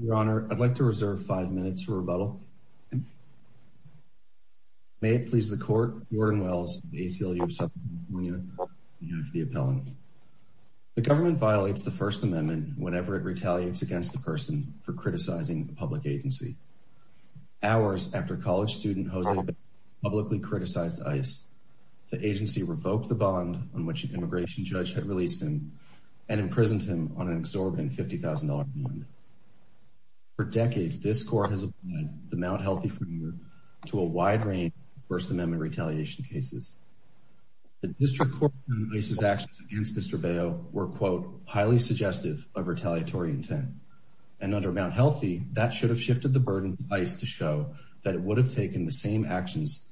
Your Honor, I'd like to reserve five minutes for rebuttal. May it please the Court, Jordan Wells, ACLU of South Carolina, for the appellant. The government violates the First Amendment whenever it retaliates against a person for criticizing a public agency. Hours after college student Jose publicly criticized ICE, the agency revoked the bond on which an immigration judge had released and imprisoned him on an exorbitant $50,000 bond. For decades, this Court has applied the Mount Healthy framework to a wide range of First Amendment retaliation cases. The District Court's ICE's actions against Mr. Bello were, quote, highly suggestive of retaliatory intent. And under Mount Healthy, that should have shifted the burden on ICE to show that it would have taken the same actions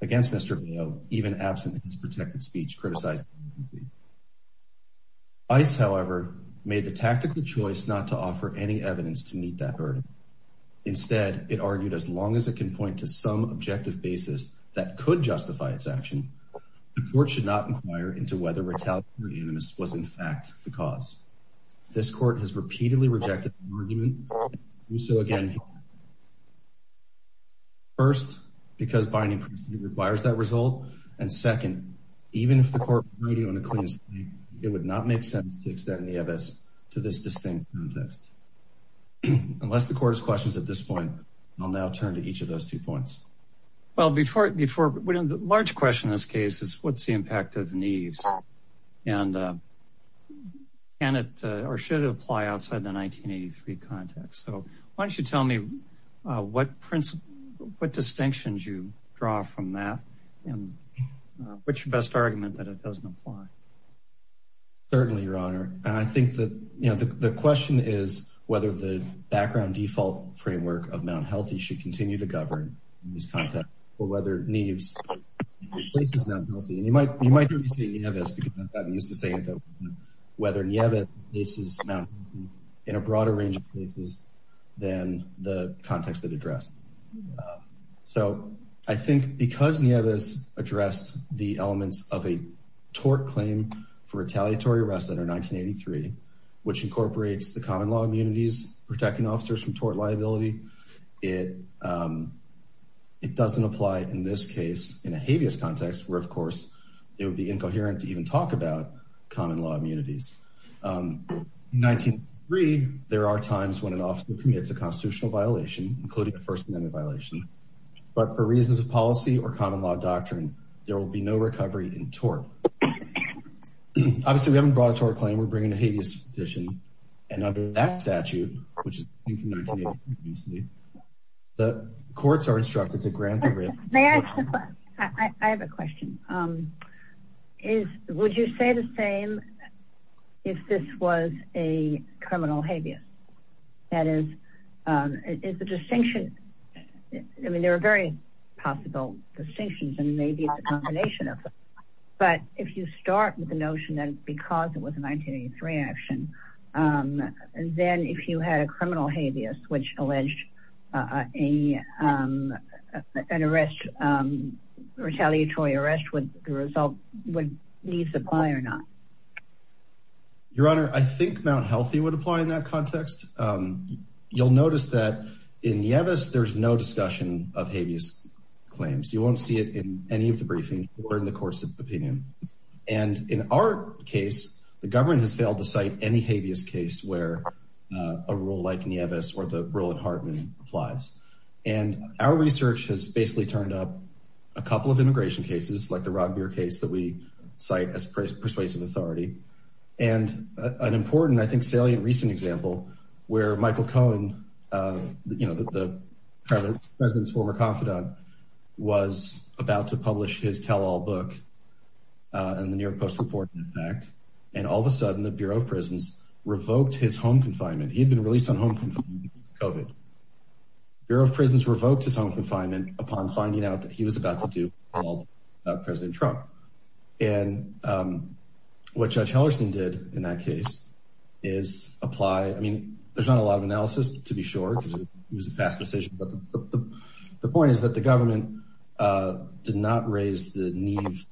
against Mr. Bello even absent his protected speech criticizing the agency. ICE, however, made the tactical choice not to offer any evidence to meet that burden. Instead, it argued as long as it can point to some objective basis that could justify its action, the Court should not inquire into whether retaliation or unanimous was, in fact, the cause. This Court has repeatedly rejected the argument so, again, first, because binding precedent requires that result, and second, even if the Court were to do it on a clean slate, it would not make sense to extend the EMS to this distinct context. Unless the Court has questions at this point, I'll now turn to each of those two points. Well, before, we don't, the large question in this case is what's the impact of Neves? And can it or should it apply outside the 1983 context? So why don't you tell me what principle, what distinctions you draw from that and which best argument that it doesn't apply? Certainly, Your Honor. I think that, you know, the question is whether the background default framework of Mount Healthy should continue to govern in this context or whether Neves replaces Mount Healthy. And you might hear me say Neves because I've gotten used to saying it, whether Neves replaces Mount Healthy in a broader range of cases than the context it addressed. So I think because Neves addressed the elements of a tort claim for retaliatory arrest under 1983, which incorporates the common law immunities, protecting officers from tort liability, it doesn't apply in this case, in a habeas context, where, of course, it would be incoherent to even talk about common law immunities. In 1983, there are times when an officer commits a constitutional violation, including a First Amendment violation, but for reasons of policy or common law doctrine, there will be no recovery in tort. Obviously, we haven't brought a tort claim, we're bringing a habeas petition, and under that statute, which is from 1983, the courts are instructed to grant the rape. I have a question. Would you say the same if this was a criminal habeas? That is, is the distinction, I mean, there are very possible distinctions, and maybe it's a combination of them. But if you start with the 1983 action, then if you had a criminal habeas, which alleged an arrest, retaliatory arrest, would Neves apply or not? Your Honor, I think Mount Healthy would apply in that context. You'll notice that in Neves, there's no discussion of habeas claims. You won't see it in any of the briefings or in the course of the opinion. And in our case, the government has failed to cite any habeas case where a rule like Neves or the rule at Hartman applies. And our research has basically turned up a couple of immigration cases, like the Rockbier case that we cite as persuasive authority. And an important, I think, salient recent example, where Michael Cohen, you know, the President's former confidant, was about to publish his tell-all book in the New York Post-Reporting Act. And all of a sudden, the Bureau of Prisons revoked his home confinement. He had been released on home confinement due to COVID. Bureau of Prisons revoked his home confinement upon finding out that he was about to do a tell-all about President Trump. And what Judge Hellerstein did in that case is apply, I mean, there's not a lot of analysis, to be sure, because it was a fast decision, but the point is that the government did not raise the Neves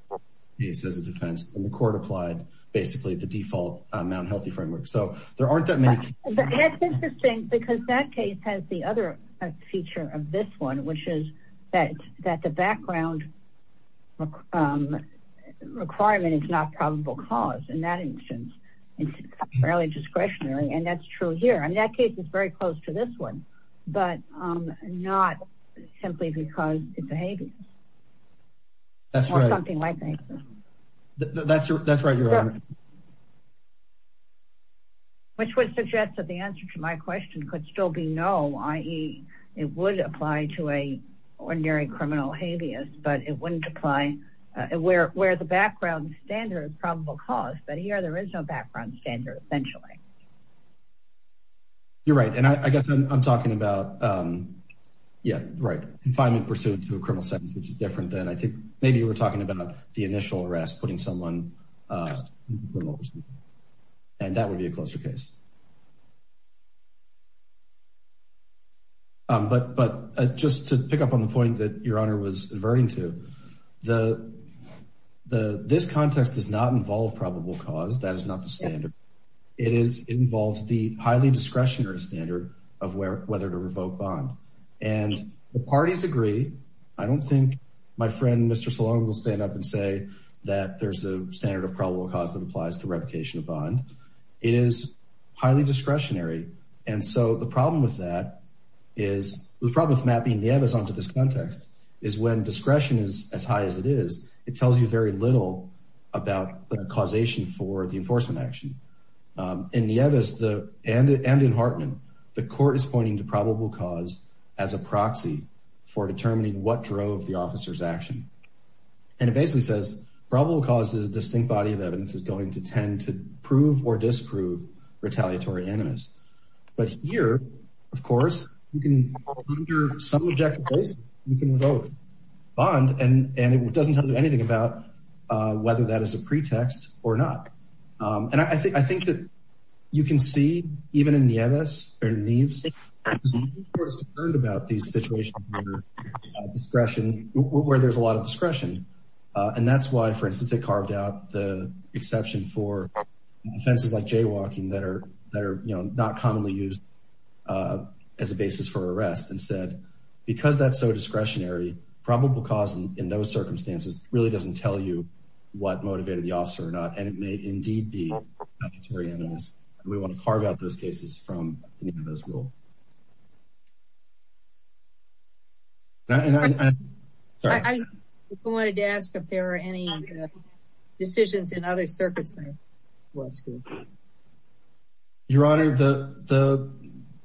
case as a defense, and the court applied basically the default Mount Healthy framework. So there aren't that many- And that's interesting because that case has the other feature of this one, which is that the background requirement is not probable cause in that instance. It's fairly discretionary, and that's true here. I mean, that case is very close to this one, but not simply because it's a habeas. That's right. Or something like that. That's right, Your Honor. Which would suggest that the answer to my question could still be no, i.e., it would apply to an ordinary criminal habeas, but it wouldn't apply where the background standard is probable cause. But here, there is no background standard, essentially. You're right, and I guess I'm talking about, yeah, right, confinement pursuant to a criminal sentence, which is different than, I think, maybe you were talking about the initial arrest, putting someone in criminal pursuit, and that would be a closer case. But just to pick up on the point that Your Honor was adverting to, the, this context does not involve probable cause. That is not the standard. It involves the highly discretionary standard of whether to revoke bond, and the parties agree. I don't think my friend, Mr. Salone, will stand up and say that there's a standard of probable cause that applies to revocation of bond. It is highly discretionary, and so the problem with that is, the problem with this context is when discretion is as high as it is, it tells you very little about the causation for the enforcement action. In Nieves and in Hartman, the court is pointing to probable cause as a proxy for determining what drove the officer's action, and it basically says probable cause is a distinct body of evidence is going to tend to prove or disprove retaliatory animus. But here, of course, you can, under some objective basis, you can revoke bond, and it doesn't tell you anything about whether that is a pretext or not. And I think that you can see, even in Nieves, because the court is concerned about these situations where there's a lot of discretion, and that's why, for instance, they carved out the exception for offenses like jaywalking that are, not commonly used as a basis for arrest and said, because that's so discretionary, probable cause in those circumstances really doesn't tell you what motivated the officer or not, and it may indeed be retaliatory animus. We want to carve out those cases from this rule. I wanted to ask if there are any decisions in other circuits. Your Honor, the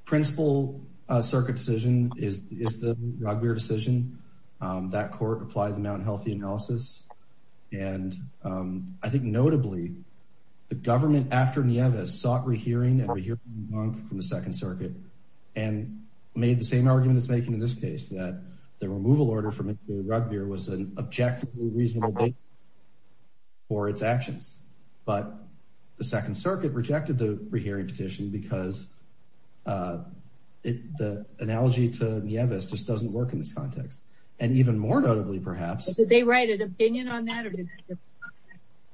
principal circuit decision is the Rugbeer decision. That court applied the Mount Healthy analysis, and I think notably, the government after Nieves sought rehearing from the Second Circuit and made the same argument it's making in this case, that the removal order from the Rugbeer was an objectively reasonable date for its actions. But the Second Circuit rejected the rehearing petition because the analogy to Nieves just doesn't work in this context. And even more notably, perhaps... Did they write an opinion on that or did they just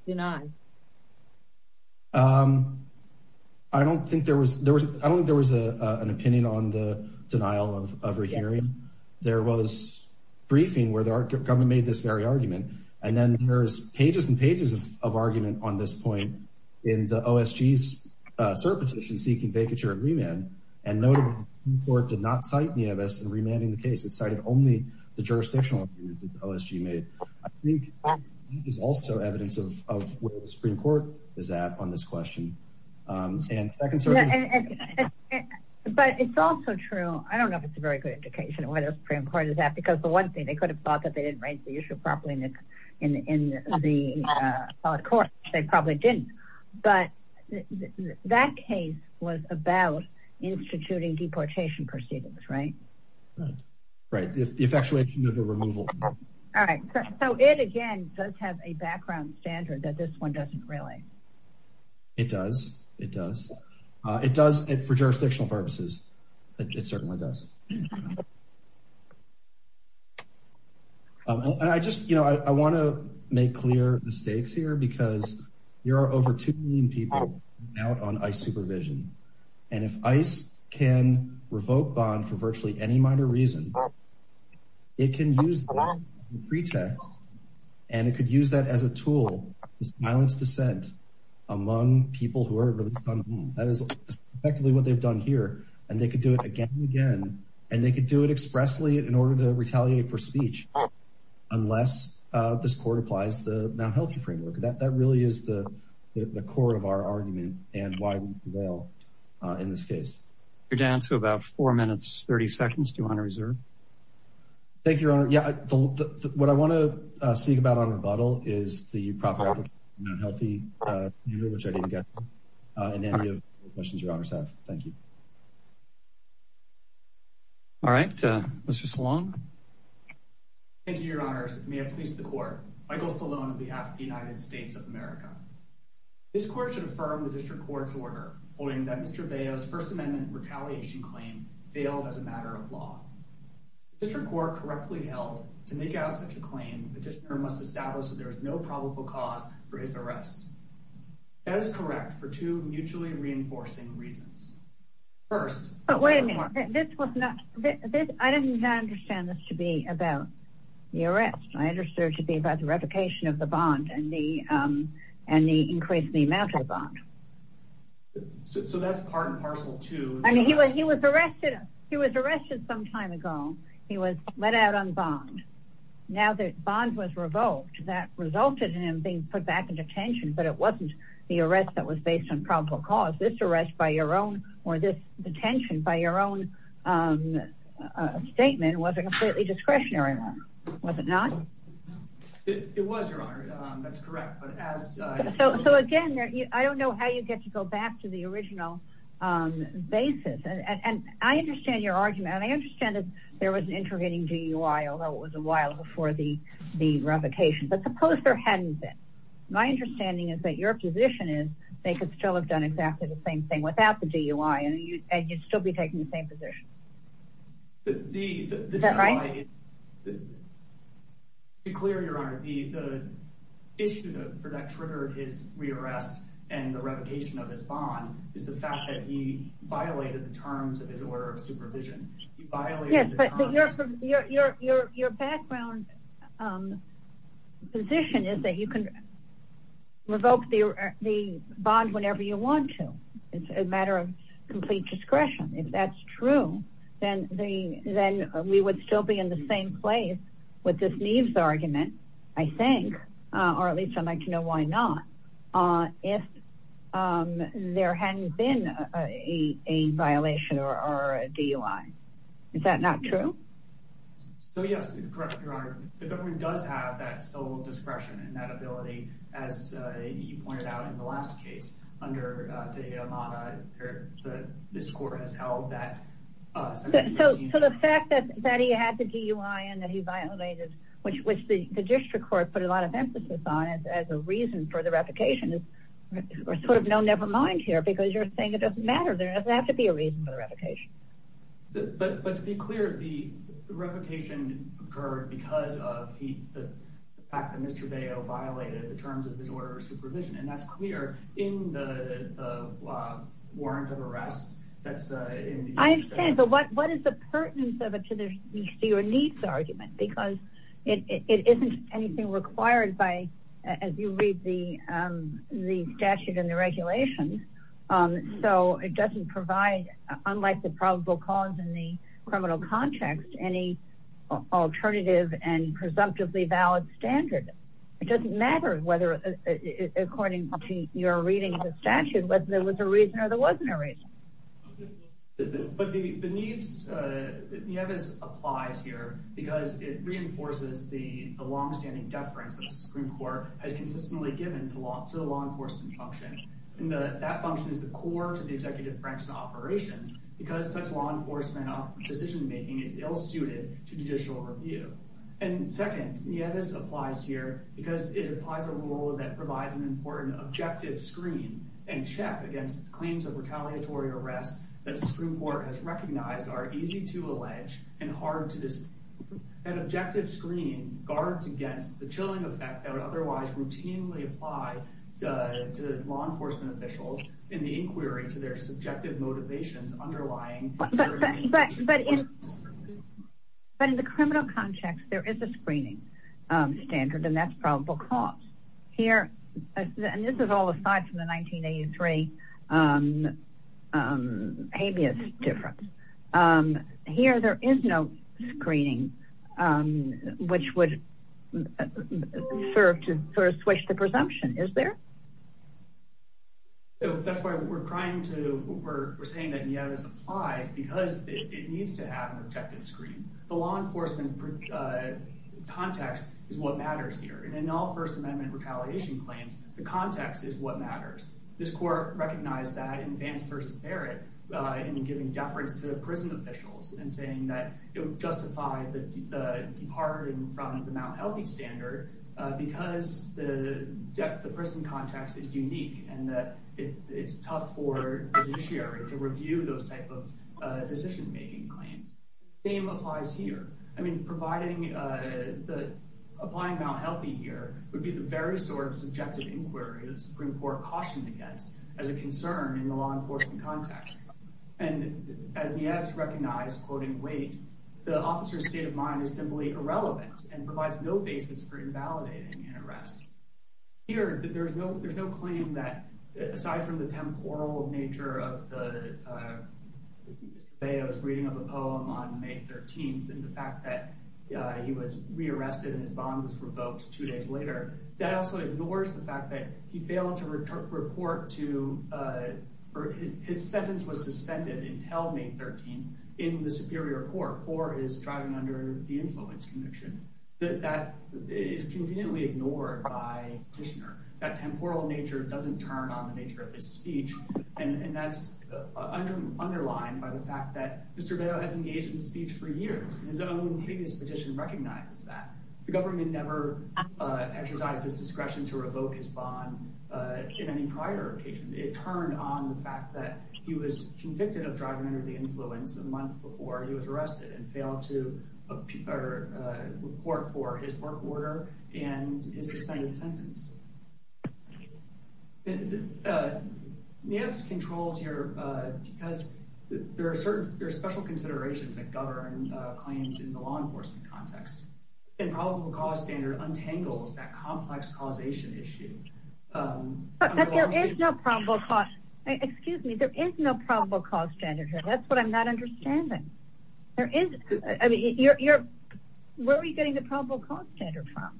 deny? I don't think there was an opinion on the denial of rehearing. There was a briefing where the government made this very argument, and then there's pages and pages of argument on this point in the OSG's circuit petition seeking vacature and remand, and notably, the court did not cite Nieves in remanding the case. It cited only the jurisdictional opinion that the OSG made. I think that is also evidence of where the Supreme Court is at on this question. But it's also true... I don't know if it's a very good indication of where the Supreme Court is at because the one thing, they could have thought that they didn't raise the issue properly in the court. They probably didn't. But that case was about instituting deportation proceedings, right? Right. The effectuation of a removal. All right. So it, again, does have a background standard that this one doesn't really. It does. It does. For jurisdictional purposes, it certainly does. I want to make clear the stakes here because there are over 2 million people out on ICE bond for virtually any minor reason. It can use the pretext, and it could use that as a tool to silence dissent among people who are... That is effectively what they've done here, and they could do it again and again, and they could do it expressly in order to retaliate for speech unless this court applies the Mount Healthy framework. That really is the core of our argument and why we prevail in this case. You're down to about 4 minutes, 30 seconds. Do you want to reserve? Thank you, Your Honor. Yeah. What I want to speak about on rebuttal is the proper application of the Mount Healthy, which I didn't get in any of the questions Your Honors have. Thank you. All right. Mr. Salone. Thank you, Your Honors. May it please the Court. Michael Salone on behalf of the United States of America. This Court should holding that Mr. Veo's First Amendment retaliation claim failed as a matter of law. The District Court correctly held to make out such a claim, the petitioner must establish that there is no probable cause for his arrest. That is correct for two mutually reinforcing reasons. First... But wait a minute. This was not... I did not understand this to be about the arrest. I understood it to be about the replication of the bond and the increase in the amount of the bond. So that's part and parcel to... I mean, he was arrested. He was arrested some time ago. He was let out on bond. Now that bond was revoked, that resulted in him being put back in detention. But it wasn't the arrest that was based on probable cause. This arrest by your own or this detention by your own statement was a completely discretionary one. Was it not? It was, Your Honor. That's correct. But as... So again, I don't know how you get to go back to the original basis. And I understand your argument. And I understand that there was an interrogating DUI, although it was a while before the revocation. But suppose there hadn't been. My understanding is that your position is they could still have done exactly the same thing without the DUI, and you'd still be taking the same position. The DUI... Is that right? To be clear, Your Honor, the issue that triggered his re-arrest and the revocation of his bond is the fact that he violated the terms of his order of supervision. He violated the terms... Yes, but your background position is that you can revoke the bond whenever you want to. It's a matter of complete discretion. If that's true, then we would still be in the same place with this Neves argument, I think, or at least I'd like to know why not, if there hadn't been a violation or a DUI. Is that not true? So yes, correct, Your Honor. The government does have that sole discretion and that ability, as you pointed out in the last case under De La Mota, this court has held that... So the fact that he had the DUI and that he violated, which the district court put a lot of emphasis on as a reason for the revocation, is sort of no nevermind here, because you're saying it doesn't matter. There doesn't have to be a reason for the revocation. But to be clear, the revocation occurred because of the fact that Mr. Deo violated the terms of his order of supervision, and that's clear in the warrant of arrest that's in the... I understand, but what is the pertinence of it to your Neves argument? Because it isn't anything required by, as you read the statute and the regulations, so it doesn't provide, unlike the probable cause in the criminal context, any alternative and presumptively valid standard. It doesn't matter whether, according to your reading of the statute, whether there was a reason or there wasn't a reason. But the Neves applies here because it reinforces the long-standing deference that the Supreme Court has consistently given to the law enforcement function, and that function is the core to the because such law enforcement decision-making is ill-suited to judicial review. And second, the Neves applies here because it applies a rule that provides an important objective screen and check against claims of retaliatory arrest that the Supreme Court has recognized are easy to allege and hard to disprove. That objective screen guards against the chilling effect that would otherwise routinely apply to law enforcement officials in the inquiry to their subjective motivations underlying. But in the criminal context, there is a screening standard, and that's probable cause. Here, and this is all aside from the 1983 habeas difference, here there is no screening which would serve to sort of switch the presumption, is there? So that's why we're trying to, we're saying that Neves applies because it needs to have an objective screen. The law enforcement context is what matters here, and in all First Amendment retaliation claims, the context is what matters. This court recognized that in Vance v. Barrett in giving deference to prison officials and saying that it would justify the departing from the Mount Healthy standard because the prison context is unique and that it's tough for judiciary to review those type of decision-making claims. Same applies here. I mean, providing, applying Mount Healthy here would be the very sort of subjective inquiry the Supreme Court cautioned against as a concern in the law enforcement context. And as Neves recognized, quoting Waite, the officer's state of mind is simply irrelevant and provides no basis for invalidating an arrest. Here, there's no claim that, aside from the temporal nature of the, I was reading of a poem on May 13th and the fact that he was re-arrested and his bond was revoked two days later, that also ignores the fact that he failed to report to, or his sentence was suspended until May 13th in the Superior Court for his driving under the influence conviction. That is conveniently ignored by Tishner. That temporal nature doesn't turn on the nature of his speech, and that's underlined by the fact that Mr. Vail has engaged in speech for years. His own previous petition recognizes that. The government never exercised his discretion to revoke his bond in any prior occasion. It turned on the fact that he was convicted of driving under the influence a month before he was arrested and failed to report for his work order and his suspended sentence. Neves controls here because there are certain, there are special considerations that govern claims in the law enforcement context, and probable cause standard untangles that complex causation issue. But there is no probable cause, excuse me, there is no probable cause standard here. That's what I'm not understanding. There is, I mean, you're, where are you getting the probable cause standard from?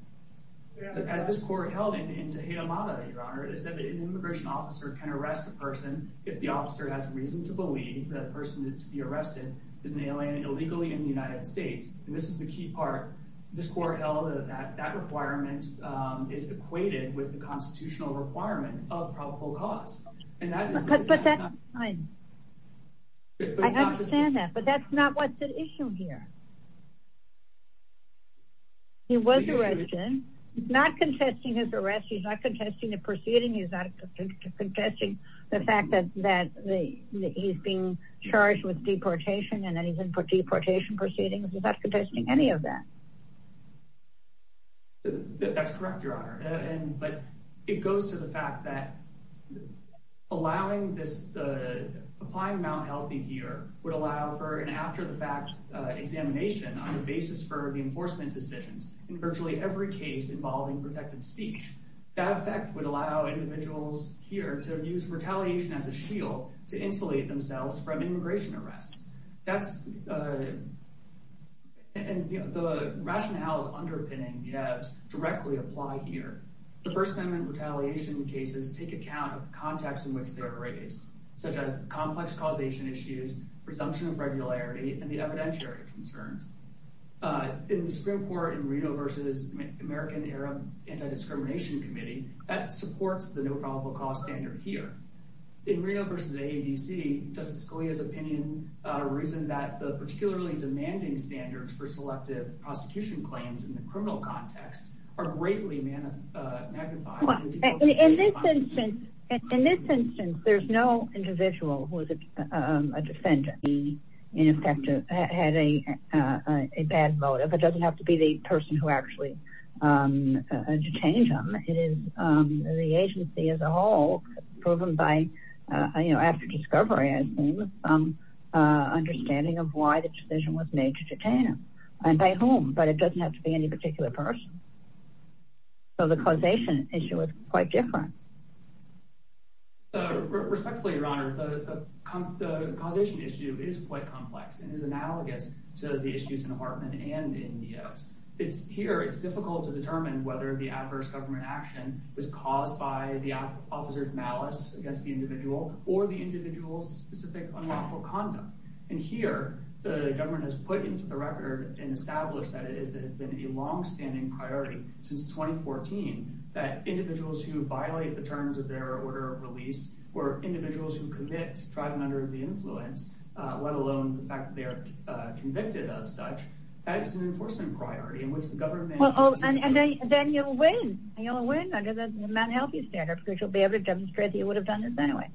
As this court held in Tejeda Mata, Your Honor, it is that an immigration officer can arrest a person if the officer has reason to believe that the person to be arrested is an alien illegally in the United States, and this is the key part. This court held that that requirement is equated with the constitutional requirement of probable cause. I understand that, but that's not what's at issue here. He was arrested. He's not contesting his arrest. He's not contesting the proceeding. He's not contesting the fact that he's being charged with deportation, and that he's in for deportation proceedings. He's not contesting any of that. That's correct, Your Honor. And, but it goes to the fact that allowing this, applying Mount Healthy here would allow for an after the fact examination on the basis for the enforcement decisions in virtually every case involving protected speech. That effect would allow individuals here to use retaliation as a shield to insulate themselves from immigration arrests. That's, and the rationale is underpinning the ads directly apply here. The first amendment retaliation cases take account of the context in which they're raised, such as complex causation issues, presumption of regularity, and the evidentiary concerns. In the Supreme Court in Reno versus American Arab Anti-Discrimination Committee, that supports the no probable cause standard here. In Reno versus AADC, Justice Scalia's opinion about a reason that the particularly demanding standards for selective prosecution claims in the criminal context are greatly magnified. In this instance, there's no individual who is a defendant in effect had a bad motive. It doesn't have to be the person who actually detained him. It is the agency as a whole proven by, you know, after discovery, I think, understanding of why the decision was made to detain him and by whom, but it doesn't have to be any particular person. So the causation issue is quite different. Respectfully, Your Honor, the causation issue is quite complex and is analogous to the issues in Hartman and in Neos. Here, it's difficult to determine whether the adverse government action was caused by the officer's malice against the individual or the individual's specific unlawful conduct. And here, the government has put into the record and established that it order of release were individuals who commit to trial and under the influence, let alone the fact that they are convicted of such as an enforcement priority in which the government... And then you'll win. You'll win under the Mt. Healthy standard because you'll be able to demonstrate that you would have done this anyway.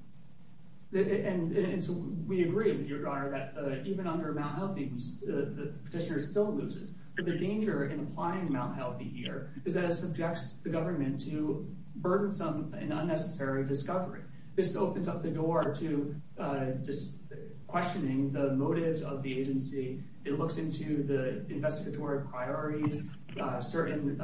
And so we agree, Your Honor, that even under Mt. Healthy, the petitioner still loses. But the danger in applying Mt. Healthy here is that it subjects the government to burdensome and unnecessary discovery. This opens up the door to questioning the motives of the agency. It looks into the investigatory priorities, certain...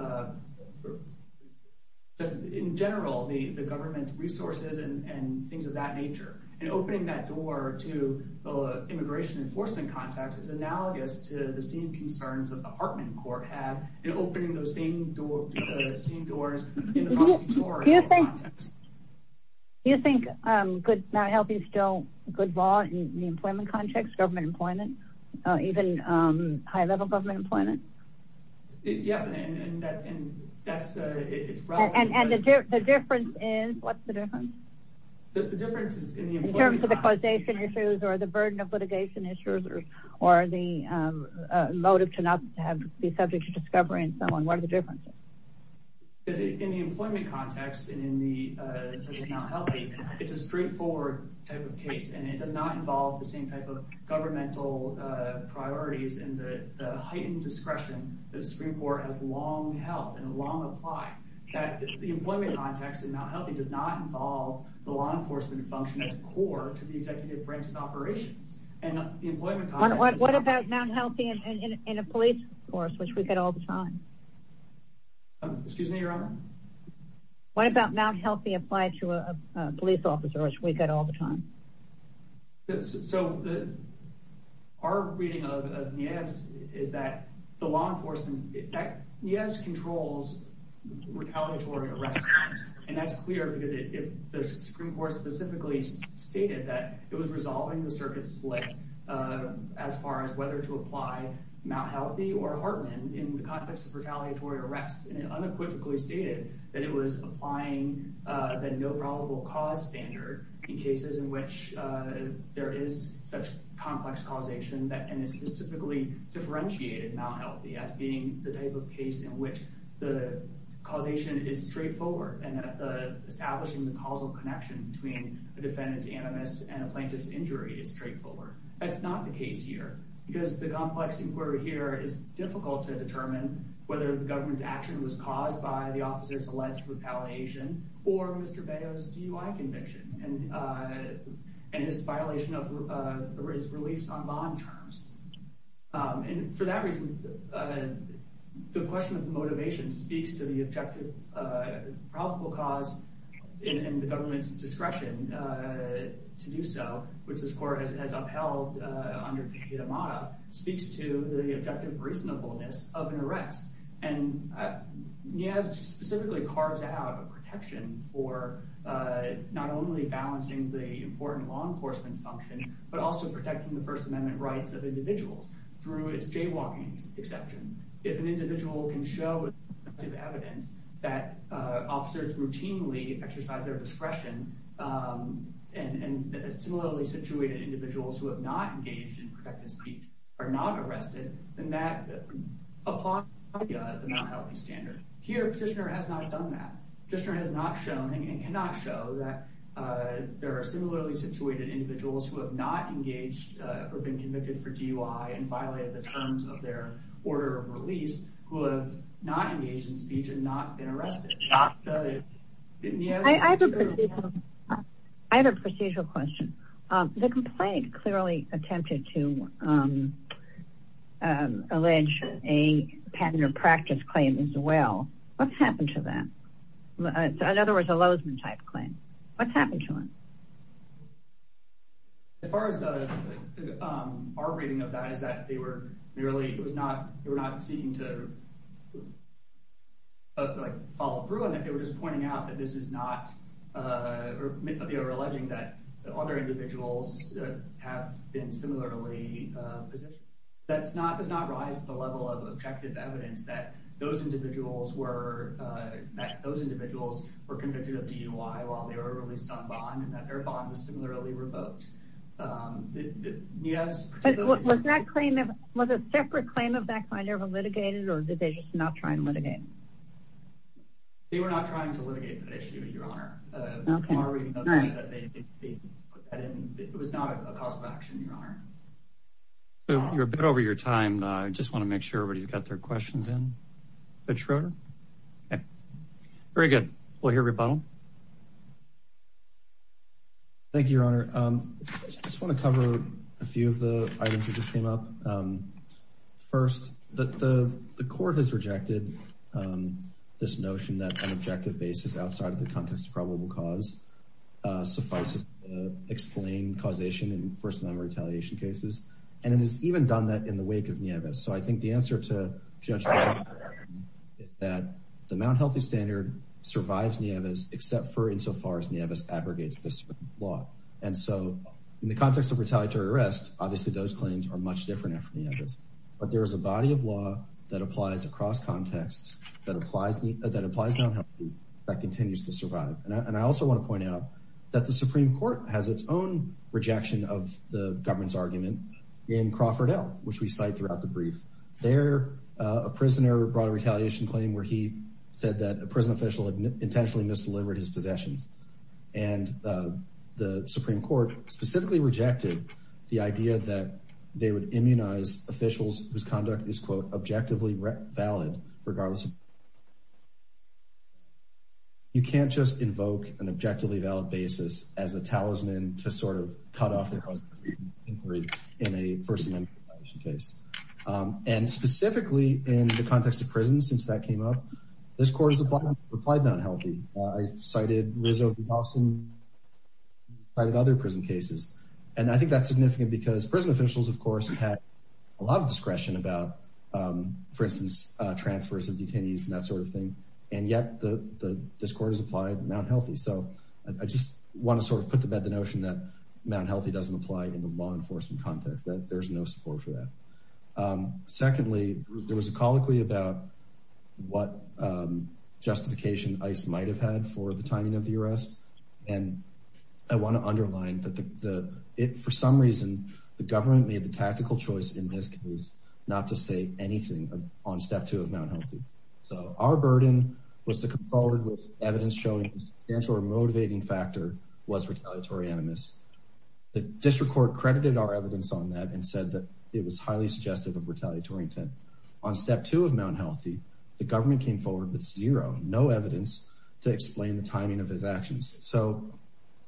In general, the government's resources and things of that nature. And opening that door to the immigration enforcement context is analogous to the same concerns that the Hartman Court have in opening those same doors in the prosecutorial context. Do you think Mt. Healthy is still good law in the employment context, government employment, even high-level government employment? Yes, and that's... And the difference is... What's the difference? The difference is in the employment context. In terms of the causation issues or the burden of litigation issues or the motive to not be subject to discovery in someone, what are the differences? In the employment context and in the Mt. Healthy, it's a straightforward type of case, and it does not involve the same type of governmental priorities and the heightened discretion that a Supreme Court has long held and long applied. The employment context in Mt. Healthy does not involve the law enforcement function as core to the executive branch's operations. And the employment context... What about Mt. Healthy in a police force, which we get all the time? Excuse me, Your Honor? What about Mt. Healthy applied to a police officer, which we get all the time? So our reading of NIEVS is that the law enforcement... NIEVS controls retaliatory arrests, and that's clear because the Supreme Court specifically stated that it was resolving the circuit split as far as whether to apply Mt. Healthy or Hartman in the context of retaliatory arrest, and it unequivocally stated that it was applying the no probable cause standard in cases in which there is such complex causation and it specifically differentiated Mt. Healthy as being the type of case in which the causation is straightforward and establishing the causal connection between a defendant's animus and a plaintiff's injury is straightforward. That's not the case here, because the complex inquiry here is difficult to determine whether the government's action was caused by the officer's alleged retaliation or Mr. Beo's DUI conviction and his violation of his release on bond terms. And for that reason, the question of motivation speaks to the objective probable cause and the government's discretion to do so, which this court has upheld under Ketamata, speaks to the objective reasonableness of an arrest. And NIEVS specifically carves out a protection for not only balancing the important law enforcement function, but also protecting the First Amendment rights of individuals through its jaywalking exception. If an individual can show evidence that officers routinely exercise their discretion and similarly situated individuals who have not engaged in protected speech are not arrested, then that applies to the Mt. Healthy standard. Here, Petitioner has not done that. Petitioner has not shown and cannot show that there are similarly situated individuals who have not engaged or been convicted for DUI and violated the terms of their order of release who have not engaged in speech and not been arrested. I have a procedural question. The complaint clearly attempted to allege a patent or practice claim as well. What's happened to that? In other words, a Lozman type claim. What's happened to it? As far as our reading of that is that they were merely, it was not, they were not seeking to follow through on that. They were just pointing out that this is not, they were alleging that other individuals have been similarly positioned. That does not rise the level of objective evidence that those individuals were convicted of DUI while they were released on bond and that their bond was similarly revoked. Was that claim, was a separate claim of that kind ever litigated or did they just not try and litigate? They were not trying to litigate that issue, your honor. It was not a cause of action, your honor. You're a bit over your time. I just want to make sure everybody's got their questions in. Judge Schroeder? Okay, very good. We'll hear from you at the bottom. Thank you, your honor. I just want to cover a few of the items that just came up. First, the court has rejected this notion that an objective basis outside of the context of probable cause suffices to explain causation in first amendment retaliation cases. And it has even done that in the wake of Nieves. So I think the answer to Judge Schroeder is that the Mount Healthy Standard survives Nieves except for insofar as Nieves abrogates this law. And so in the context of retaliatory arrest, obviously those claims are much different after Nieves. But there is a body of law that applies across contexts that applies Mount Healthy that continues to survive. And I also want to point out that the Supreme Court has its own rejection of the government's argument in Crawford L, which we cite throughout the brief. There, a prisoner brought a retaliation claim where he said that a prison official had intentionally misdelivered his possessions. And the Supreme Court specifically rejected the idea that they would immunize officials whose conduct is, quote, you can't just invoke an objectively valid basis as a talisman to sort of cut off their inquiry in a first amendment case. And specifically in the context of prison, since that came up, this court has applied Mount Healthy. I've cited Rizzo v. Dawson, cited other prison cases. And I think that's significant because prison officials, of course, had a lot of discretion about, for instance, transfers of detainees and that sort of thing. And yet this court has applied Mount Healthy. So I just want to sort of put to bed the notion that Mount Healthy doesn't apply in the law enforcement context, that there's no support for that. Secondly, there was a colloquy about what justification ICE might have had for the timing of the arrest. And I want to underline that for some reason, the government made the decision to come forward with evidence showing the substantial or motivating factor was retaliatory animus. The district court credited our evidence on that and said that it was highly suggestive of retaliatory intent. On step two of Mount Healthy, the government came forward with zero, no evidence to explain the timing of his actions. So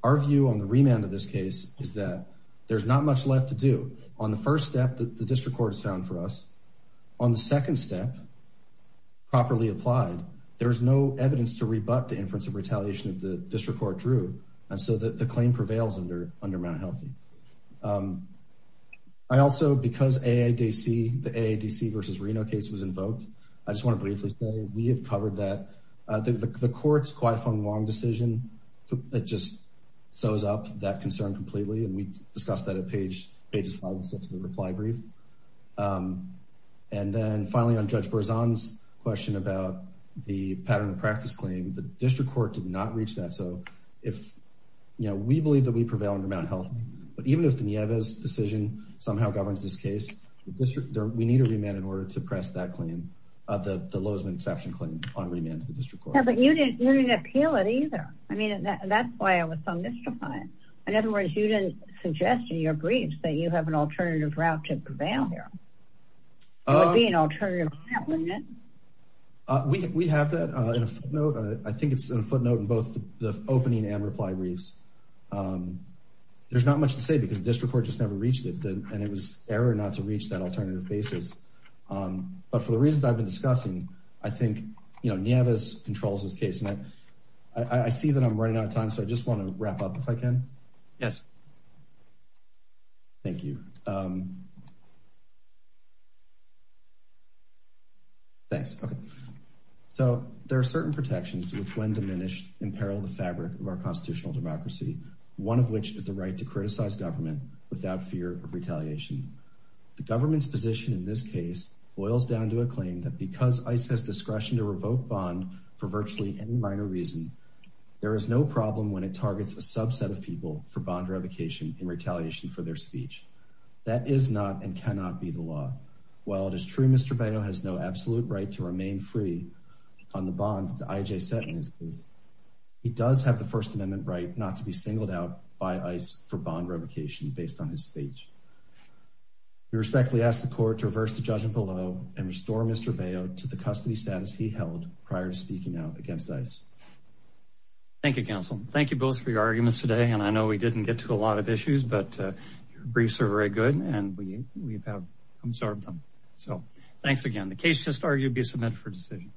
our view on the remand of this case is that there's not much left to do. On the first step, the district court has found for us. On the second step, properly applied, there's no evidence to rebut the inference of retaliation that the district court drew. And so the claim prevails under Mount Healthy. I also, because the AADC versus Reno case was invoked, I just want to briefly say, we have covered that. The court's quite a fun, long decision that just sews up that concern completely. And we discussed that at pages five and six of the reply brief. And then finally on Judge Borzon's question about the pattern of practice claim, the district court did not reach that. So if, you know, we believe that we prevail under Mount Healthy, but even if the Nieves decision somehow governs this case, we need a remand in order to press that claim, the Lozman exception claim on remand to the district court. Yeah, but you didn't appeal it either. I mean, that's why I was so mystified. In other words, you didn't suggest in your briefs that you have an alternative route to prevail here. It would be an alternative route, wouldn't it? We have that in a footnote. I think it's in a footnote in both the opening and reply briefs. There's not much to say because the district court just never reached it. And it was error not to reach that alternative basis. But for the reasons I've been discussing, I think, you know, Nieves controls this case. And I see that I'm running out of time, so I just want to wrap up if I can. Yes. Thank you. Thanks. Okay. So there are certain protections which, when diminished, imperil the fabric of our constitutional democracy, one of which is the right to criticize government without fear of retaliation. The government's position in this case boils down to a claim that because ICE has it targets a subset of people for bond revocation in retaliation for their speech. That is not and cannot be the law. While it is true Mr. Baio has no absolute right to remain free on the bond that IJ set in his case, he does have the First Amendment right not to be singled out by ICE for bond revocation based on his speech. We respectfully ask the court to reverse the judgment below and restore Mr. Baio to the custody status he held prior to speaking out against ICE. Thank you, counsel. Thank you both for your arguments today. And I know we didn't get to a lot of issues, but your briefs are very good and we we've have absorbed them. So thanks again. The case just argued be submitted for decision.